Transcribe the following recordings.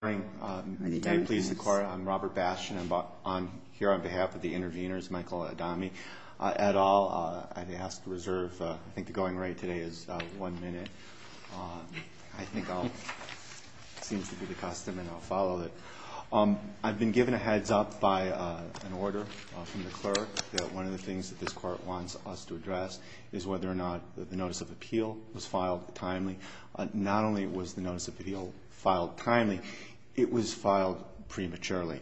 May it please the Court, I'm Robert Bastian. I'm here on behalf of the interveners, Michael Adame et al. I'd ask to reserve, I think the going rate today is one minute. I think I'll, it seems to be the custom, and I'll follow it. I've been given a heads up by an order from the clerk that one of the things that this Court wants us to address is whether or not the Notice of Appeal was filed timely. Not only was the Notice of Appeal filed timely, it was filed prematurely.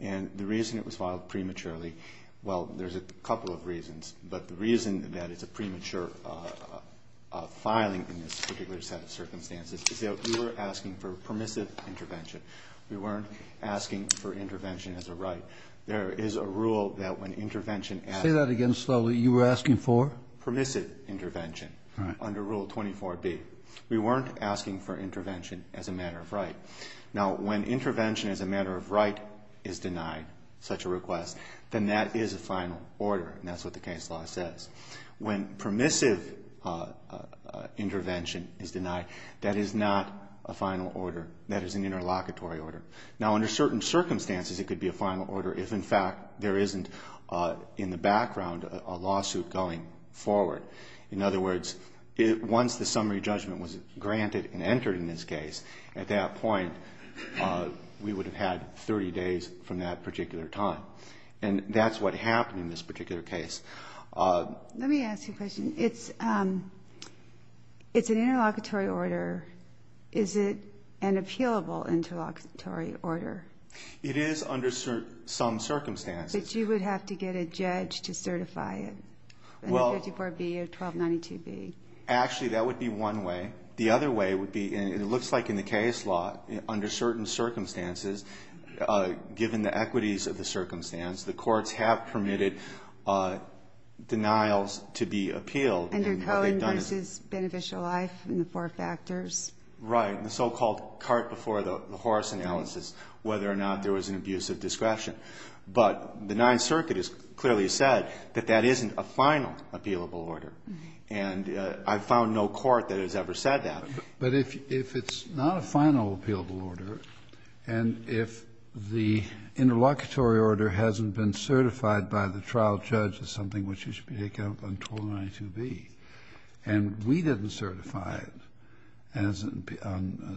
And the reason it was filed prematurely, well, there's a couple of reasons, but the reason that it's a premature filing in this particular set of circumstances is that we were asking for permissive intervention. We weren't asking for intervention as a right. There is a rule that when intervention asks for it. Say that again slowly. You were asking for? Permissive intervention under Rule 24B. We weren't asking for intervention as a matter of right. Now, when intervention as a matter of right is denied, such a request, then that is a final order, and that's what the case law says. When permissive intervention is denied, that is not a final order. That is an interlocutory order. Now, under certain circumstances, it could be a final order if, in fact, there isn't in the background a lawsuit going forward. In other words, once the summary judgment was granted and entered in this case, at that point we would have had 30 days from that particular time. And that's what happened in this particular case. Let me ask you a question. It's an interlocutory order. Is it an appealable interlocutory order? It is under some circumstances. But you would have to get a judge to certify it under 54B or 1292B. Actually, that would be one way. The other way would be, and it looks like in the case law, under certain circumstances, given the equities of the circumstance, the courts have permitted denials to be appealed. Under Cohen v. Beneficial Life and the four factors. Right, the so-called cart before the horse analysis, whether or not there was an abuse of discretion. But the Ninth Circuit has clearly said that that isn't a final appealable order. And I've found no court that has ever said that. But if it's not a final appealable order and if the interlocutory order hasn't been certified by the trial judge as something which should be taken on 1292B, and we didn't certify it as a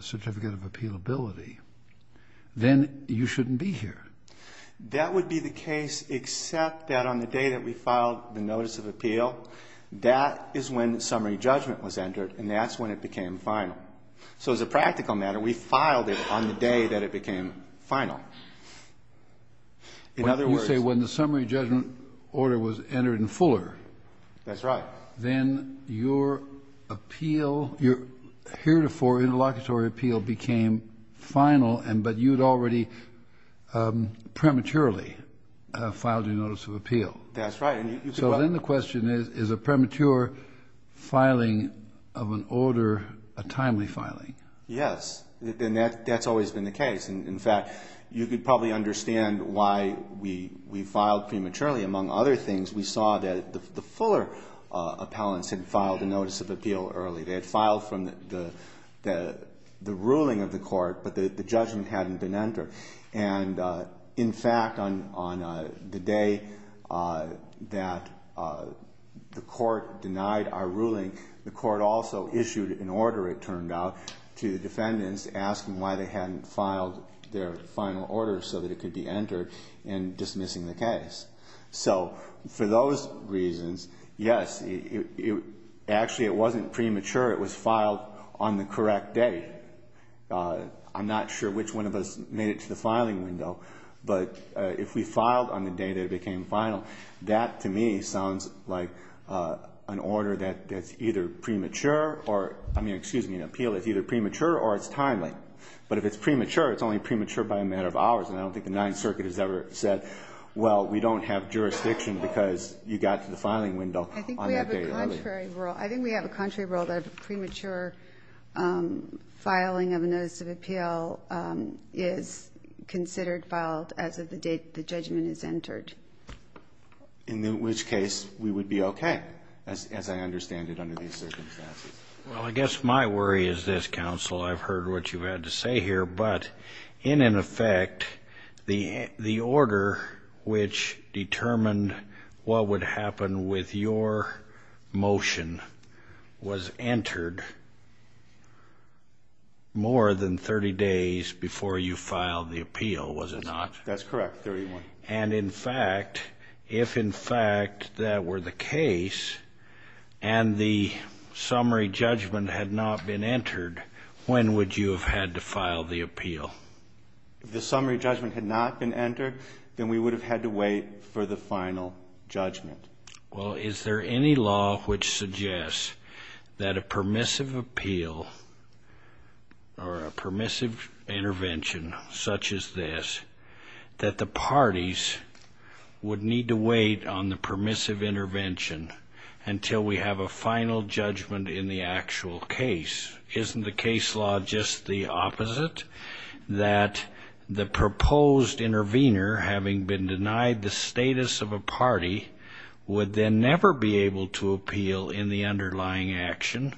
certificate of appealability, then you shouldn't be here. That would be the case except that on the day that we filed the notice of appeal, that is when summary judgment was entered, and that's when it became final. So as a practical matter, we filed it on the day that it became final. In other words... You say when the summary judgment order was entered in Fuller. That's right. Then your appeal, your heretofore interlocutory appeal became final, but you'd already prematurely filed your notice of appeal. That's right. So then the question is, is a premature filing of an order a timely filing? Yes, and that's always been the case. In fact, you could probably understand why we filed prematurely. Among other things, we saw that the Fuller appellants had filed a notice of appeal early. They had filed from the ruling of the court, but the judgment hadn't been entered. In fact, on the day that the court denied our ruling, the court also issued an order, it turned out, to the defendants asking why they hadn't filed their final order so that it could be entered in dismissing the case. So for those reasons, yes, actually it wasn't premature. It was filed on the correct day. I'm not sure which one of us made it to the filing window, but if we filed on the day that it became final, that to me sounds like an order that's either premature or, I mean, excuse me, an appeal that's either premature or it's timely. And I don't think the Ninth Circuit has ever said, well, we don't have jurisdiction because you got to the filing window on that day early. I think we have a contrary rule. I think we have a contrary rule that a premature filing of a notice of appeal is considered filed as of the date the judgment is entered. In which case we would be okay, as I understand it, under these circumstances. Well, I guess my worry is this, Counsel. I've heard what you've had to say here. But in effect, the order which determined what would happen with your motion was entered more than 30 days before you filed the appeal, was it not? That's correct, 31. And in fact, if in fact that were the case and the summary judgment had not been entered, when would you have had to file the appeal? If the summary judgment had not been entered, then we would have had to wait for the final judgment. Well, is there any law which suggests that a permissive appeal or a permissive intervention such as this, that the parties would need to wait on the permissive intervention until we have a final judgment in the actual case? Isn't the case law just the opposite? That the proposed intervener, having been denied the status of a party, would then never be able to appeal in the underlying action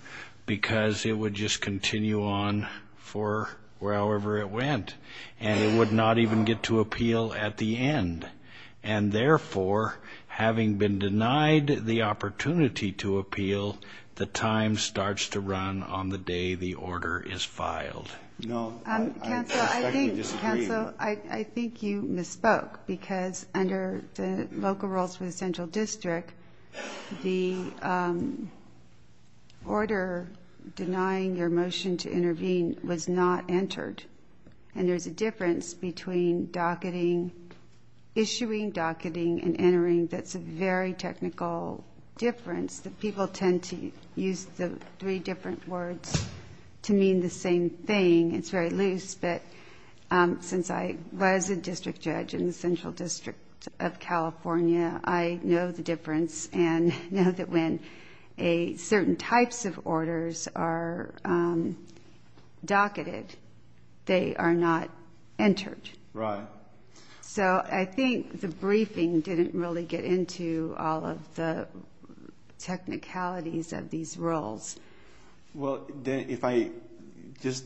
because it would just continue on for however it went. And it would not even get to appeal at the end. And therefore, having been denied the opportunity to appeal, the time starts to run on the day the order is filed. No. Counsel, I think you misspoke because under the local rules for the central district, the order denying your motion to intervene was not entered. And there's a difference between docketing, issuing docketing, and entering that's a very technical difference. People tend to use the three different words to mean the same thing. It's very loose. But since I was a district judge in the central district of California, I know the difference and know that when certain types of orders are docketed, they are not entered. Right. So I think the briefing didn't really get into all of the technicalities of these rules. Well, if I just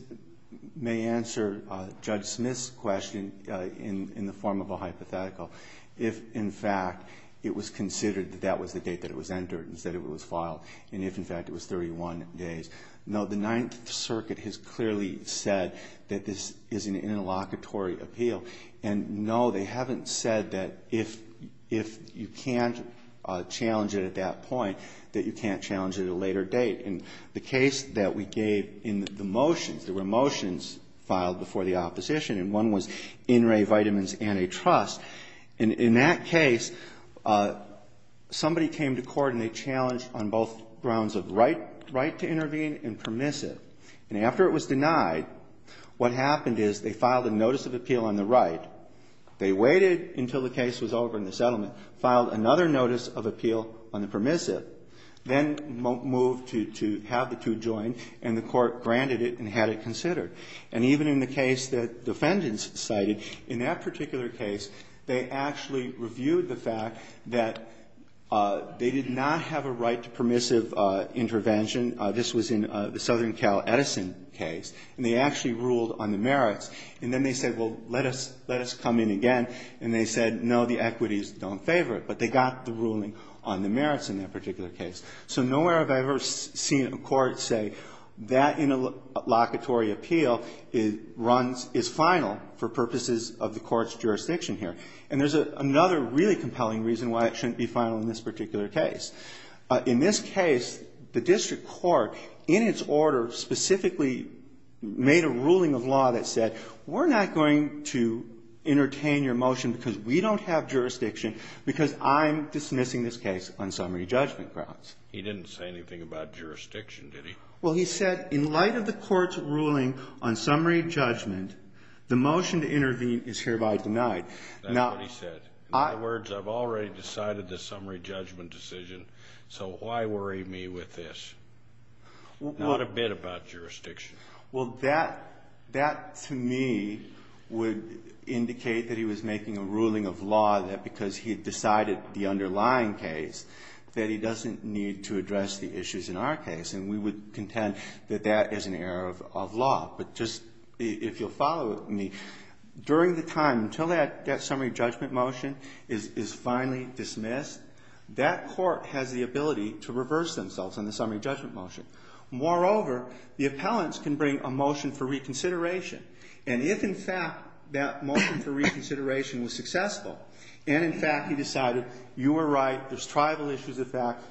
may answer Judge Smith's question in the form of a hypothetical, if, in fact, it was considered that that was the date that it was entered and said it was filed, and if, in fact, it was 31 days. No, the Ninth Circuit has clearly said that this is an interlocutory appeal. And, no, they haven't said that if you can't challenge it at that point, that you can't challenge it at a later date. And the case that we gave in the motions, there were motions filed before the opposition, and one was In Re Vitamins Antitrust. And in that case, somebody came to court and they challenged on both grounds of right to intervene and permissive. And after it was denied, what happened is they filed a notice of appeal on the right. They waited until the case was over in the settlement, filed another notice of appeal on the permissive, then moved to have the two joined, and the court granted it and had it considered. And even in the case that defendants cited, in that particular case, they actually reviewed the fact that they did not have a right to permissive intervention. This was in the Southern Cal Edison case. And they actually ruled on the merits. And then they said, well, let us come in again. And they said, no, the equities don't favor it. But they got the ruling on the merits in that particular case. So nowhere have I ever seen a court say that interlocutory appeal runs as final for purposes of the court's jurisdiction here. And there's another really compelling reason why it shouldn't be final in this particular case. In this case, the district court, in its order, specifically made a ruling of law that said, we're not going to entertain your motion because we don't have jurisdiction because I'm dismissing this case on summary judgment grounds. He didn't say anything about jurisdiction, did he? Well, he said, in light of the court's ruling on summary judgment, the motion to intervene is hereby denied. That's what he said. In other words, I've already decided the summary judgment decision, so why worry me with this? Not a bit about jurisdiction. Well, that, to me, would indicate that he was making a ruling of law that because he had decided the underlying case, that he doesn't need to address the issues in our case. And we would contend that that is an error of law. But just, if you'll follow me, during the time, until that summary judgment motion is finally dismissed, that court has the ability to reverse themselves on the summary judgment motion. Moreover, the appellants can bring a motion for reconsideration. And if, in fact, that motion for reconsideration was successful, and, in fact, he decided, you were right, there's tribal issues of fact,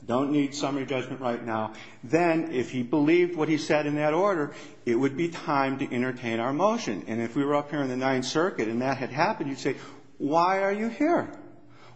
I don't need summary judgment right now, then, if he believed what he said in that order, it would be time to entertain our motion. And if we were up here in the Ninth Circuit and that had happened, you'd say, why are you here?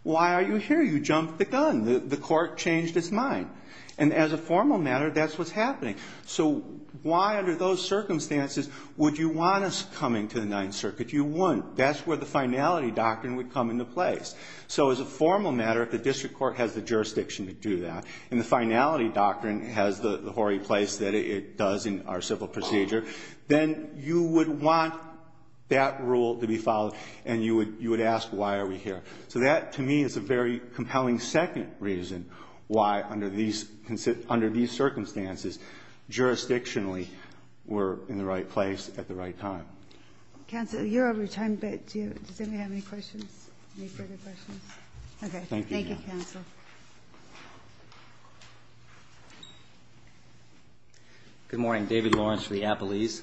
Why are you here? You jumped the gun. The court changed its mind. And as a formal matter, that's what's happening. So why, under those circumstances, would you want us coming to the Ninth Circuit? You wouldn't. That's where the finality doctrine would come into place. So as a formal matter, if the district court has the jurisdiction to do that, and the finality doctrine has the hoary place that it does in our civil procedure, then you would want that rule to be followed, and you would ask, why are we here? So that, to me, is a very compelling second reason why, under these circumstances, jurisdictionally, we're in the right place at the right time. Ginsburg. Counsel, you're over your time, but does anybody have any questions? Any further questions? Okay. Thank you, counsel. Good morning. David Lawrence for the Appellees.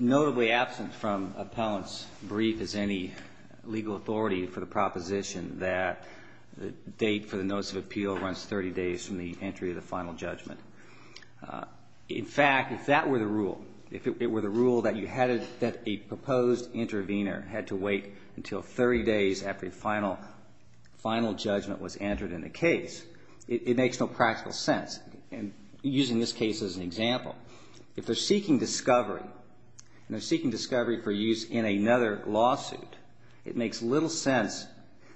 Notably absent from Appellant's brief is any legal authority for the proposition that the date for the notice of appeal runs 30 days from the entry of the final judgment. In fact, if that were the rule, if it were the rule that you had a proposed intervener had to wait until 30 days after the final judgment was entered in the case, it makes no practical sense. And using this case as an example, if they're seeking discovery, and they're seeking discovery for use in another lawsuit, it makes little sense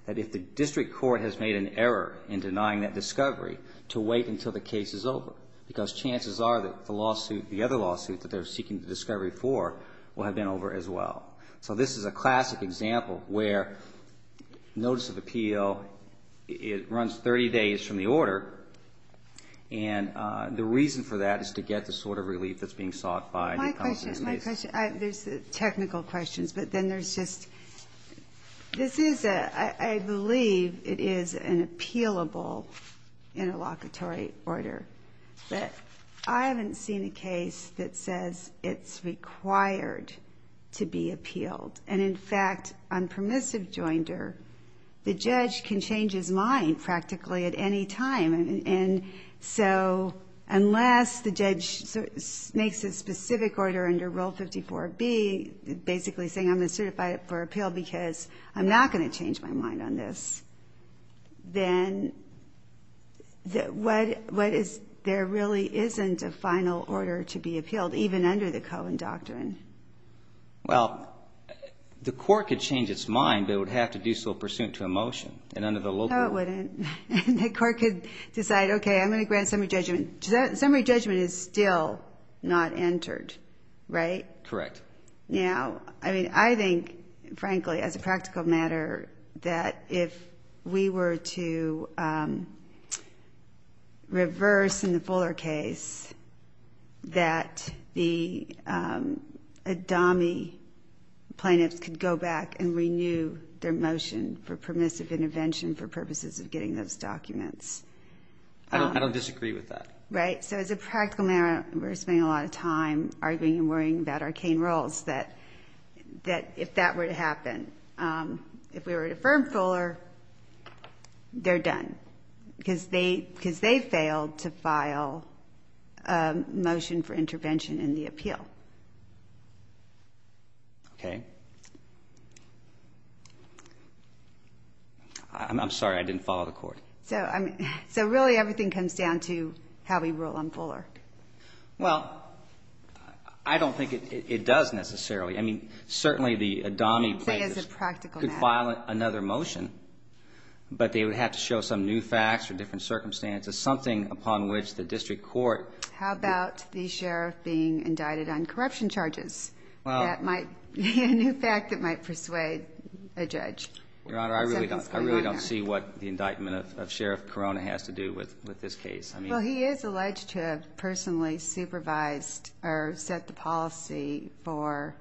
that if the district court has made an error in denying that discovery to wait until the case is over, because chances are that the lawsuit, the other lawsuit that they're seeking the discovery for, will have been over as well. So this is a classic example where notice of appeal, it runs 30 days from the And the reason for that is to get the sort of relief that's being sought by the appellants in this case. My question, there's technical questions, but then there's just, this is a, I believe it is an appealable interlocutory order. But I haven't seen a case that says it's required to be appealed. And, in fact, on permissive joinder, the judge can change his mind practically at any time. And so unless the judge makes a specific order under Rule 54B, basically saying I'm going to certify it for appeal because I'm not going to change my mind on this, then what is, there really isn't a final order to be appealed, even under the Cohen doctrine. Well, the court could change its mind, but it would have to do so pursuant to a motion. And under the local. No, it wouldn't. And the court could decide, okay, I'm going to grant summary judgment. Summary judgment is still not entered, right? Correct. Now, I mean, I think, frankly, as a practical matter, that if we were to reverse in the Fuller case that the ADAMI plaintiffs could go back and renew their motion for permissive intervention for purposes of getting those documents. I don't disagree with that. Right? So as a practical matter, we're spending a lot of time arguing and worrying about arcane roles, that if that were to happen, if we were to affirm Fuller, they're done because they failed to file a motion for intervention in the appeal. Okay. I'm sorry. I didn't follow the court. So really everything comes down to how we rule on Fuller. Well, I don't think it does necessarily. I mean, certainly the ADAMI plaintiffs could file another motion, but they would have to show some new facts or different circumstances, something upon which the district court. How about the sheriff being indicted on corruption charges? A new fact that might persuade a judge. Your Honor, I really don't see what the indictment of Sheriff Corona has to do with this case. Well, he is alleged to have personally supervised or set the policy for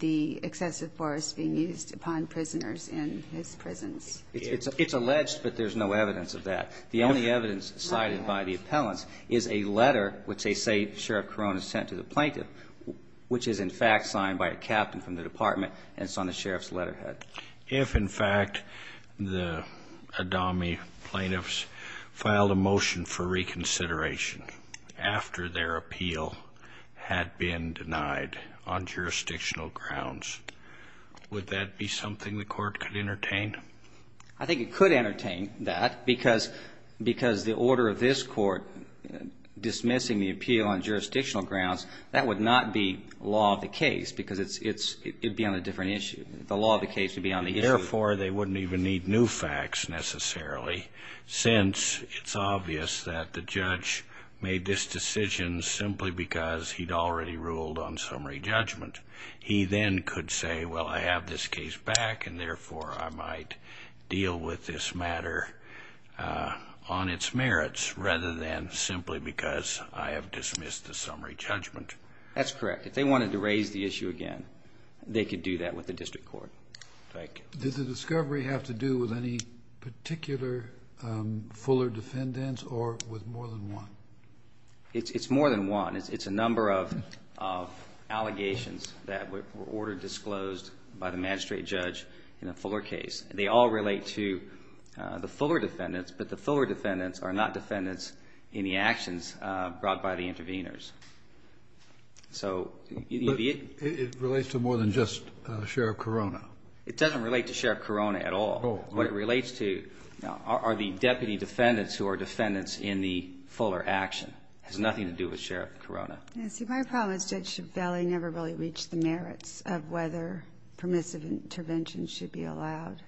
the excessive force being used upon prisoners in his prisons. It's alleged, but there's no evidence of that. The only evidence cited by the appellants is a letter, which they say Sheriff Corona sent to the plaintiff, which is, in fact, signed by a captain from the department, and it's on the sheriff's letterhead. If, in fact, the ADAMI plaintiffs filed a motion for reconsideration after their appeal had been denied on jurisdictional grounds, would that be something the court could entertain? I think it could entertain that because the order of this court dismissing the plaintiff on jurisdictional grounds, that would not be law of the case because it would be on a different issue. The law of the case would be on the issue. Therefore, they wouldn't even need new facts necessarily since it's obvious that the judge made this decision simply because he'd already ruled on summary judgment. He then could say, well, I have this case back and, therefore, I might deal with this matter on its merits rather than simply because I have dismissed the summary judgment. That's correct. If they wanted to raise the issue again, they could do that with the district court. Thank you. Does the discovery have to do with any particular Fuller defendants or with more than one? It's more than one. It's a number of allegations that were ordered disclosed by the magistrate judge in the Fuller case. They all relate to the Fuller defendants, but the Fuller defendants are not defendants in the actions brought by the intervenors. So you'd be able to ---- But it relates to more than just Sheriff Corona. It doesn't relate to Sheriff Corona at all. No. What it relates to are the deputy defendants who are defendants in the Fuller action. It has nothing to do with Sheriff Corona. Yes. See, my problem is Judge Ciavelli never really reached the merits of whether permissive intervention should be allowed.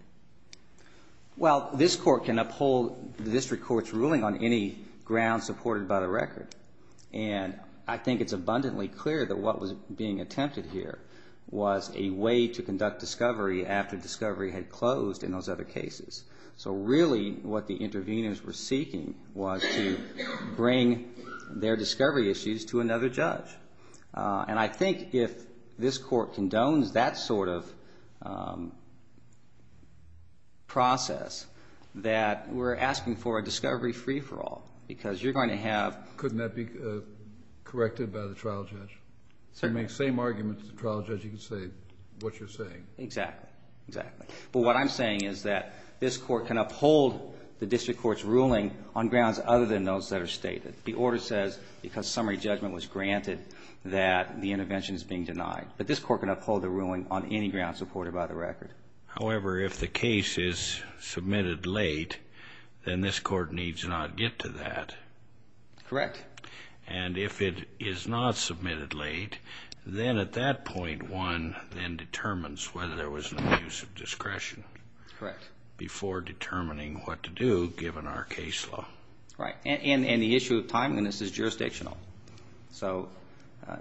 Well, this court can uphold the district court's ruling on any ground supported by the record. And I think it's abundantly clear that what was being attempted here was a way to conduct discovery after discovery had closed in those other cases. So really what the intervenors were seeking was to bring their discovery issues to another judge. And I think if this court condones that sort of process that we're asking for a discovery free-for-all because you're going to have ---- Couldn't that be corrected by the trial judge? Certainly. You make the same argument to the trial judge, you can say what you're saying. Exactly. Exactly. But what I'm saying is that this court can uphold the district court's ruling on grounds other than those that are stated. The order says because summary judgment was granted that the intervention is being denied. But this court can uphold the ruling on any ground supported by the record. However, if the case is submitted late, then this court needs not get to that. Correct. And if it is not submitted late, then at that point one then determines whether there was an abuse of discretion before determining what to do given our case law. Right. And the issue of timeliness is jurisdictional. So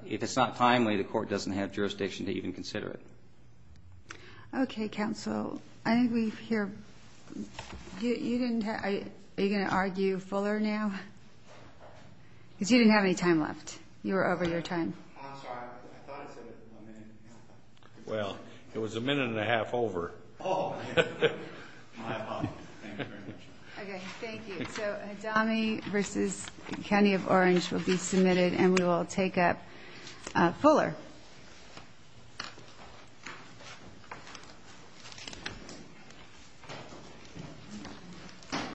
if it's not timely, the court doesn't have jurisdiction to even consider it. Okay, counsel. I think we hear ---- Are you going to argue Fuller now? Because you didn't have any time left. You were over your time. I'm sorry. I thought I said a minute. Well, it was a minute and a half over. Oh, my apologies. Thank you very much. Okay, thank you. So Hadami v. County of Orange will be submitted, and we will take up Fuller.